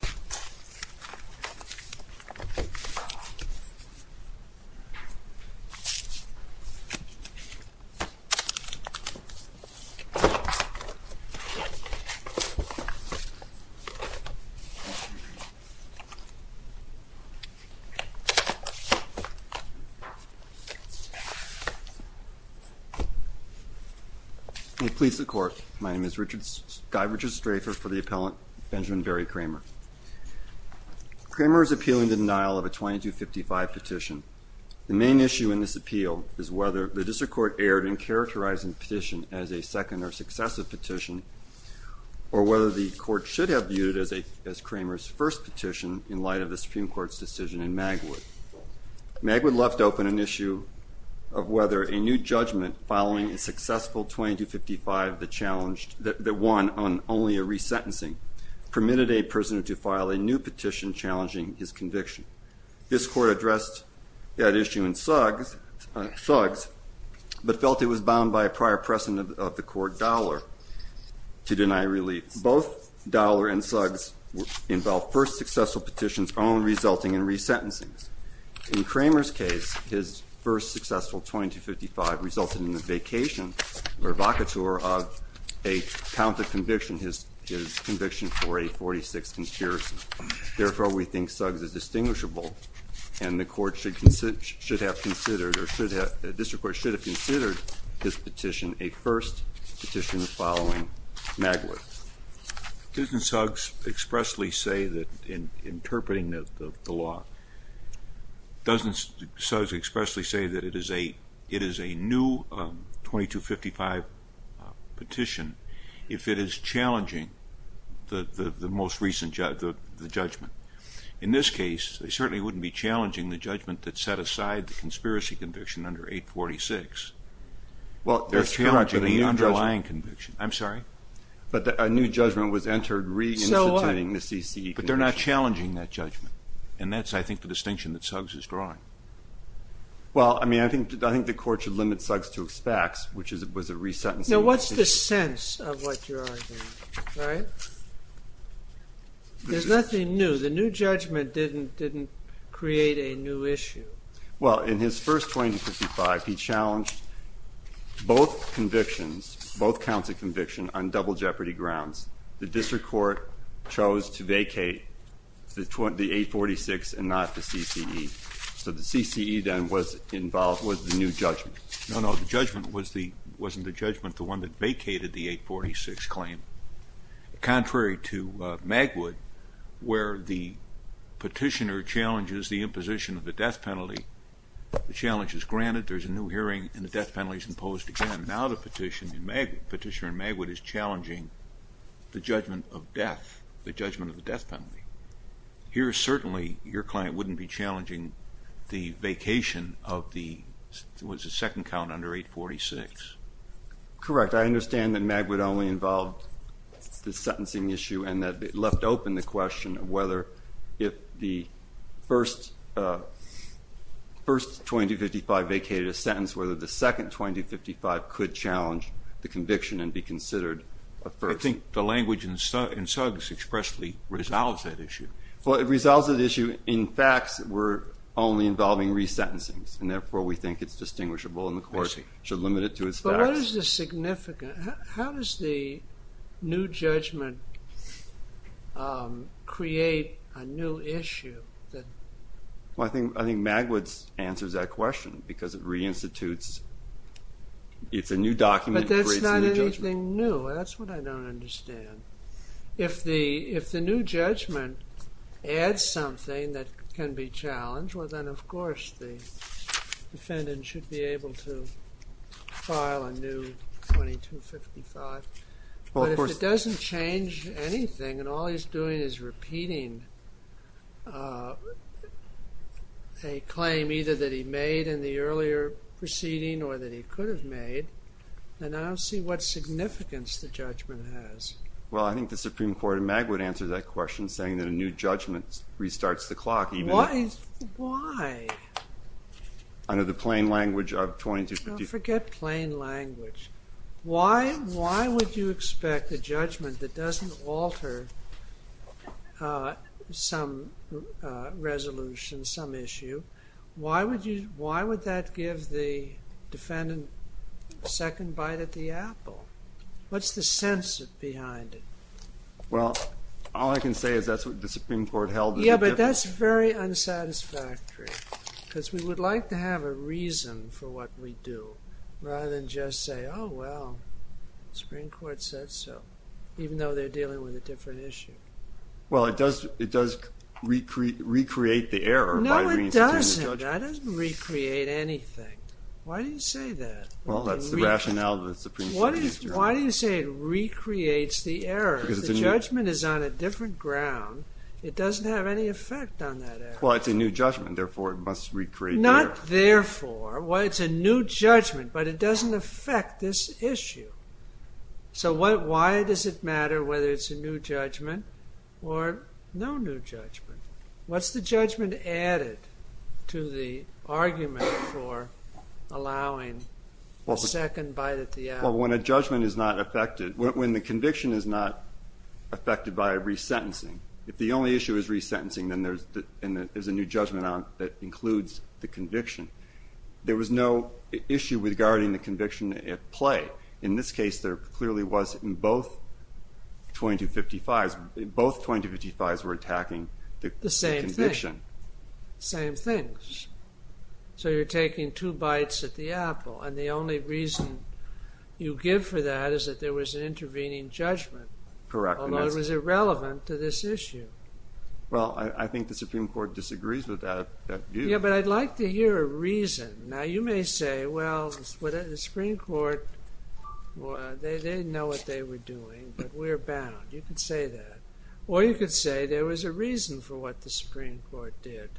Attorneys. David Wisniewski. A please the court my name is Richards directs for the appellant Benjamin Barry Kramer. Kramer is appealing the denial of a 2255 petition. The main issue in this appeal is whether the district court erred in characterizing the petition as a second or successive petition or whether the court should have viewed it as Kramer's first petition in light of the Supreme Court's decision in Magwood. Magwood left open an issue of whether a new judgment following a successful 2255 that won on only a resentencing permitted a prisoner to file a new petition challenging his conviction. This court addressed that issue in Suggs but felt it was bound by a prior precedent of the court Dowler to deny release. Both Dowler and Suggs involved first successful petitions only resulting in resentencing. In Kramer's case his first successful 2255 resulted in the vacation or vacatur of a count that conviction his conviction for a 46 conspiracy. Therefore we think Suggs is distinguishable and the court should have considered or should have the district court should have considered this petition a first petition following Magwood. Doesn't Suggs expressly say that in interpreting the law, doesn't Suggs expressly say that it is a new 2255 petition if it is challenging the most recent judgment. In this case they certainly wouldn't be challenging the judgment that set aside the conspiracy conviction under 846. Well, they're challenging the underlying conviction. I'm sorry? But a new judgment was entered reinstating the CCE conviction. But they're not challenging that judgment and that's I think the distinction that Suggs is drawing. Well, I mean I think the court should limit Suggs to expects which was a resentencing. So what's the sense of what you're arguing, right? There's nothing new. The new judgment didn't create a new issue. Well, in his first 2255 he challenged both convictions, both counts of conviction on double jeopardy grounds. The district court chose to vacate the 846 and not the CCE. So the CCE then was involved with the new judgment. No, no, the judgment wasn't the judgment, the one that vacated the 846 claim. Contrary to Magwood where the petitioner challenges the imposition of the death penalty, the challenge is granted. There's a new hearing and the death penalty is imposed again. Now the petitioner in Magwood is challenging the judgment of death, the judgment of the death penalty. Here certainly your client wouldn't be challenging the vacation of the second count under 846. Correct. I understand that Magwood only involved the sentencing issue and that it left open the question of whether if the first first 2255 vacated a sentence, whether the second 2255 could challenge the conviction and be considered a first. I think the language in Suggs expressly resolves that issue. Well, it resolves that issue. In facts, we're only involving resentencings and therefore we think it's distinguishable and the court should limit it to its significance. How does the new judgment create a new issue? Well, I think Magwood answers that question because it reinstitutes, it's a new document. But that's not anything new. That's what I don't understand. If the new judgment adds something that can be challenged, well then of course the defendant should be able to file a new 2255. But if it doesn't change anything and all he's doing is repeating a claim either that he made in the earlier proceeding or that he could have made, then I don't see what significance the judgment has. Well, I think the Supreme Court in Magwood answers that question saying that a new judgment restarts the clock. Why? Under the plain language of 2255. Forget plain language. Why would you expect a judgment that doesn't alter some resolution, some issue? Why would that give the defendant a second bite at the apple? What's the sense behind it? Well, all I can say is that's what the Supreme Court held. Yeah, but that's very unsatisfactory because we would like to have a reason for what we do rather than just say, oh, well, the Supreme Court said so, even though they're dealing with a different issue. Well, it does recreate the error by reinstating the judgment. No, it doesn't. That doesn't recreate anything. Why do you say that? Well, that's the rationale of the Supreme Court. Why do you say it recreates the error? Because the judgment is on a different ground. It doesn't have any effect on that error. Well, it's a new judgment. Therefore, it must recreate the error. Not therefore. Well, it's a new judgment, but it doesn't affect this issue. So, why does it matter whether it's a new judgment or no new judgment? What's the judgment added to the argument for allowing a second bite at the apple? Well, when a judgment is not affected, when the conviction is not affected by a resentencing, if the only issue is resentencing, then there's a new judgment on it that includes the conviction. There was no issue regarding the conviction at play. In this case, there clearly was in both 2255s, both 2255s were attacking the same conviction. Same thing. So, you're taking two bites at the apple and the only reason you give for that is that there was an intervening judgment. Correct. Although it was irrelevant to this issue. Well, I think the Supreme Court disagrees with that view. Yeah, but I'd like to hear a reason. Now, you may say, well, the Supreme Court, they didn't know what they were doing, but we're bound. You could say that. Or you could say there was a reason for what the Supreme Court did.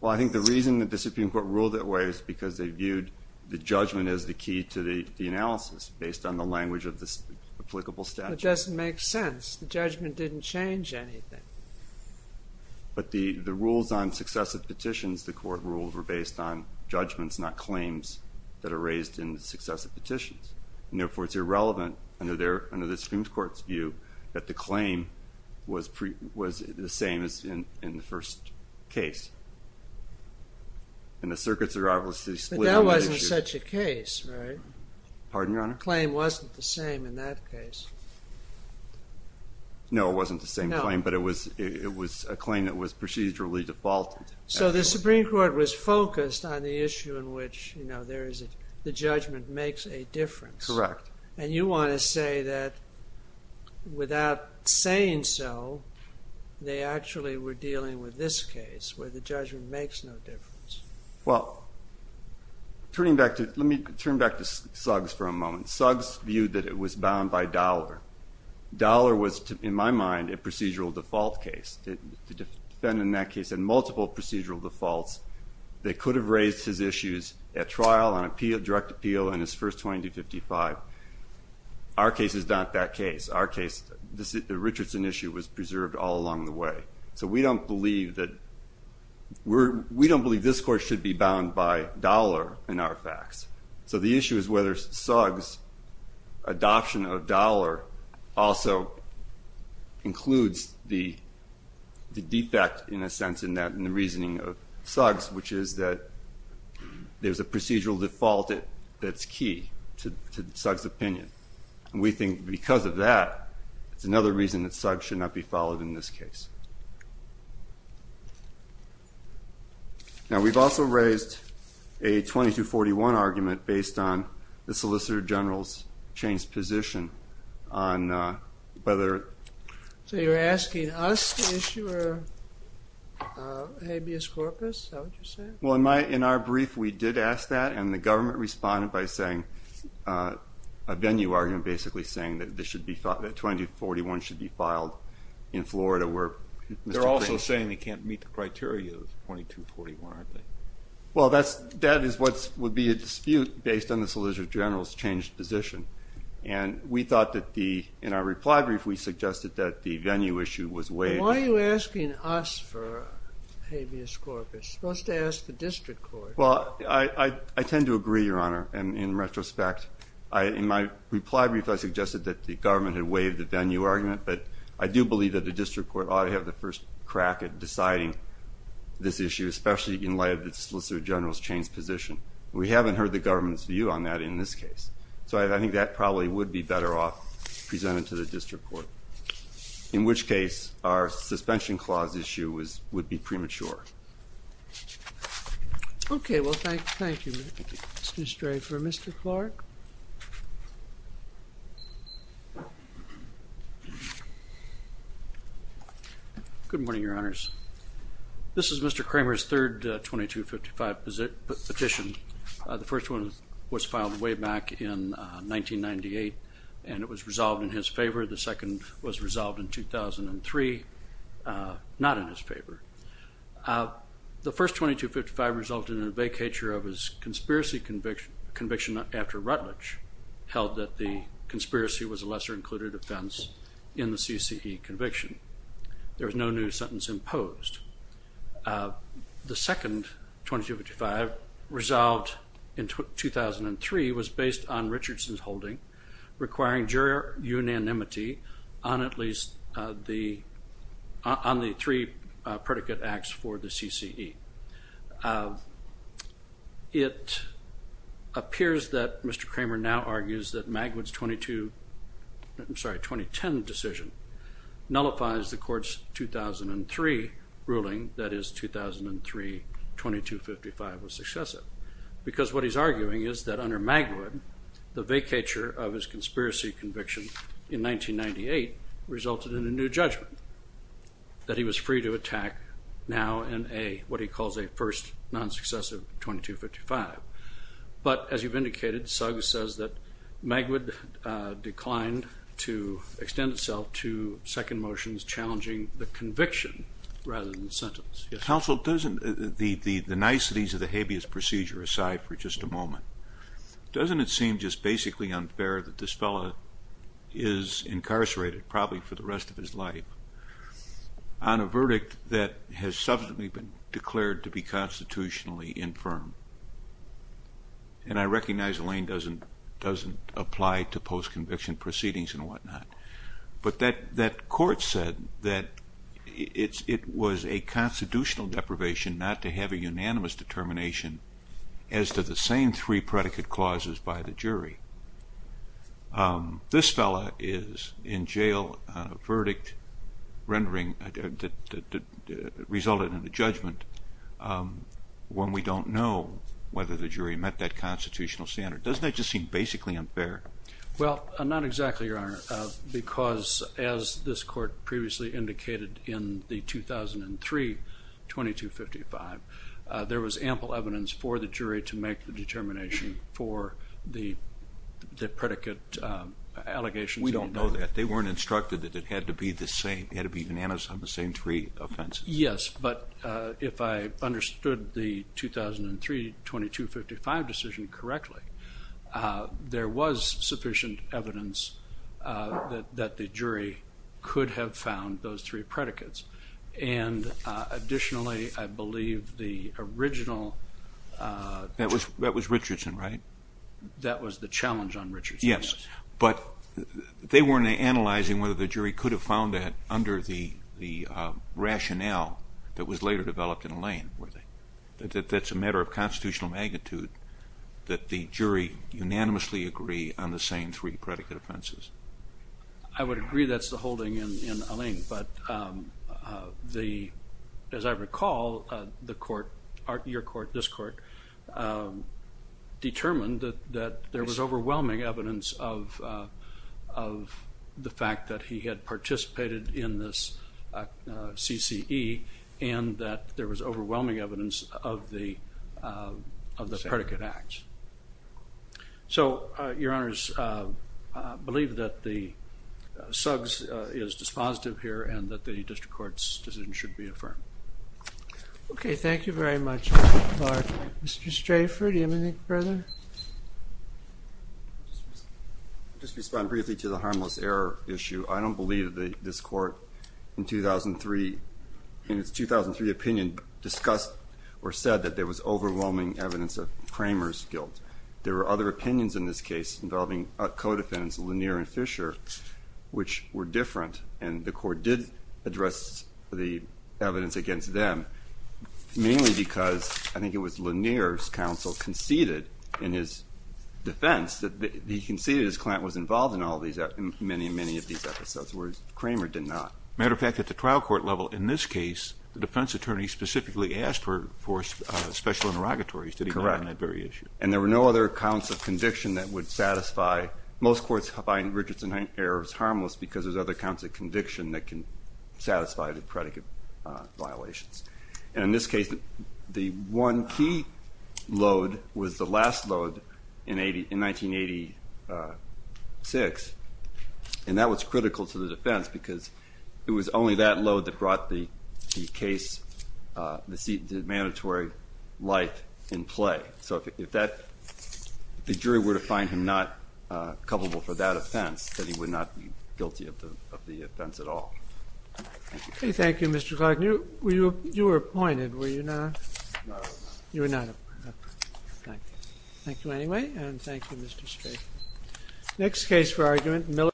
Well, I think the reason the Supreme Court ruled that way is because they viewed the judgment as the key to the analysis based on the language of the applicable statute. It doesn't make sense. The judgment didn't change anything. But the rules on successive petitions the court ruled were based on judgments, not claims that are raised in the successive petitions. And therefore, it's irrelevant under the Supreme Court's view that the claim was the same as in the first case. And the circuits are obviously split on the issue. But that wasn't such a case, right? Pardon, Your Honor? Claim wasn't the same in that case. No, it wasn't the same claim, but it was a claim that was procedurally defaulted. So the Supreme Court was focused on the issue in which, you know, there is the judgment makes a difference. Correct. And you want to say that without saying so, they actually were dealing with this case where the judgment makes no difference. Well, turning back to, let me turn back to Suggs for a moment. Suggs viewed that it was bound by Dollar. Dollar was, in my mind, a procedural default case. To defend in that case and multiple procedural defaults, they could have raised his issues at trial, on appeal, direct appeal, in his first 2255. Our case is not that case. Our case, the Richardson issue was preserved all along the way. So we don't believe that we're, we don't believe this court should be bound by Dollar in our facts. So the issue is whether Suggs adoption of Dollar also includes the defect in a sense in that in the reasoning of Suggs, which is that there's a procedural default that's key to Suggs opinion. We think because of that, it's another reason that Suggs should not be followed in this case. Now we've also raised a 2241 argument based on the solicitor general's changed position on whether... So you're asking us to issue or habeas corpus, is that what you said? Well, in my, in our brief, we did ask that and the government responded by saying a venue argument, basically saying that this should be, that 2241 should be filed in Florida where... They're also saying they can't meet the criteria of 2241, aren't they? Well, that's, that is what would be a dispute based on the solicitor general's changed position. And we thought that the, in our reply brief, we suggested that the venue issue was waived. Why are you asking us for habeas corpus? You're supposed to ask the district court. Well, I, I, I tend to agree, Your Honor, and in retrospect, I, in my reply brief, I suggested that the government had waived the venue argument, but I do believe that the district court ought to have the first crack at deciding this issue, especially in light of the solicitor general's changed position. We haven't heard the government's view on that in this case. So I think that probably would be better off presented to the district court, in which case our suspension clause issue is, would be premature. Okay. Well, thank, thank you. Mr. Stray for Mr. Clark. Good morning, Your Honors. This is Mr. Kramer's third, uh, 2255 petition. Uh, the first one was filed way back in, uh, 1998 and it was resolved in his favor. The second was resolved in 2003. Uh, not in his favor. Uh, the first 2255 resulted in a vacatur of his conspiracy conviction, conviction after Rutledge held that the conspiracy was a lesser included offense in the CCE conviction. There was no new sentence imposed. Uh, the second 2255 resolved in 2003 was based on Richardson's holding requiring jury unanimity on at least, uh, the, uh, on the three, uh, predicate acts for the CCE. Uh, it appears that Mr. Kramer now argues that Magwood's 22, I'm sorry, 2010 decision nullifies the court's 2003 ruling that is 2003, 2255 was successive because what he's arguing is that under Magwood, the vacatur of his 1998 resulted in a new judgment that he was free to attack now in a, what he calls a first non-successive 2255. But as you've indicated, Suggs says that Magwood, uh, declined to extend itself to second motions, challenging the conviction rather than the sentence. Yes. Counsel, doesn't the, the, the niceties of the habeas procedure aside for just a moment, doesn't it seem just basically unfair that this fella is incarcerated probably for the rest of his life on a verdict that has subsequently been declared to be constitutionally infirm. And I recognize Elaine doesn't, doesn't apply to post conviction proceedings and whatnot, but that, that court said that it's, it was a constitutional deprivation not to have a unanimous determination as to the same three predicate clauses by the jury. Um, this fella is in jail, uh, verdict rendering, uh, that, that, that resulted in the judgment. Um, when we don't know whether the jury met that constitutional standard, doesn't that just seem basically unfair? Well, uh, not exactly, Your Honor, uh, because as this court previously indicated in the 2003 2255, uh, there was ample evidence for the jury to make the determination for the, the predicate, uh, allegations. We don't know that they weren't instructed that it had to be the same, it had to be unanimous on the same three offenses. Yes. But, uh, if I understood the 2003 2255 decision correctly, uh, there was sufficient evidence, uh, that, that the jury could have found those three predicates. And, uh, additionally, I believe the original, uh, that was, that was Richardson, right? That was the challenge on Yes, but they weren't analyzing whether the jury could have found that under the, the, uh, rationale that was later developed in Allain, were they? That, that, that's a matter of constitutional magnitude that the jury unanimously agree on the same three predicate offenses. I would agree that's the holding in, in Allain, but, um, uh, the, as I recall, uh, the court, your court, this court, um, determined that, that there was overwhelming evidence of, uh, of the fact that he had participated in this, uh, CCE and that there was overwhelming evidence of the, uh, of the predicate acts. So, uh, your honors, uh, uh, believe that the, uh, Suggs is dispositive here and that the district court's decision should be affirmed. Okay. Thank you very much. Mr. Strayford, do you have anything further? Just respond briefly to the harmless error issue. I don't believe that this court in 2003, in its 2003 opinion, discussed or said that there was overwhelming evidence of Kramer's guilt. There were other opinions in this case involving a co-defendants Lanier and Fisher, which were different. And the court did address the evidence against them mainly because I think it was Lanier's counsel conceded in his defense that he conceded his client was involved in all these, many, many of these episodes, whereas Kramer did not. Matter of fact, at the trial court level, in this case, the defense attorney specifically asked for, for, uh, special interrogatories. Did he agree on that very issue? And there were no other accounts of conviction that would satisfy most courts find Richardson errors harmless because there's other counts of conviction that can satisfy the predicate, uh, violations. And in this case, the one key load was the last load in 80, in 80, uh, six. And that was critical to the defense because it was only that load that brought the case, uh, the seat, the mandatory life in play. So if that the jury were to find him not, uh, culpable for that offense, that he would not be guilty of the, of the offense at all. Thank you, Mr. Clark. You were, you were appointed, were you not? You were not. Thank you anyway. And thank you, Mr. Spade. Next case for argument.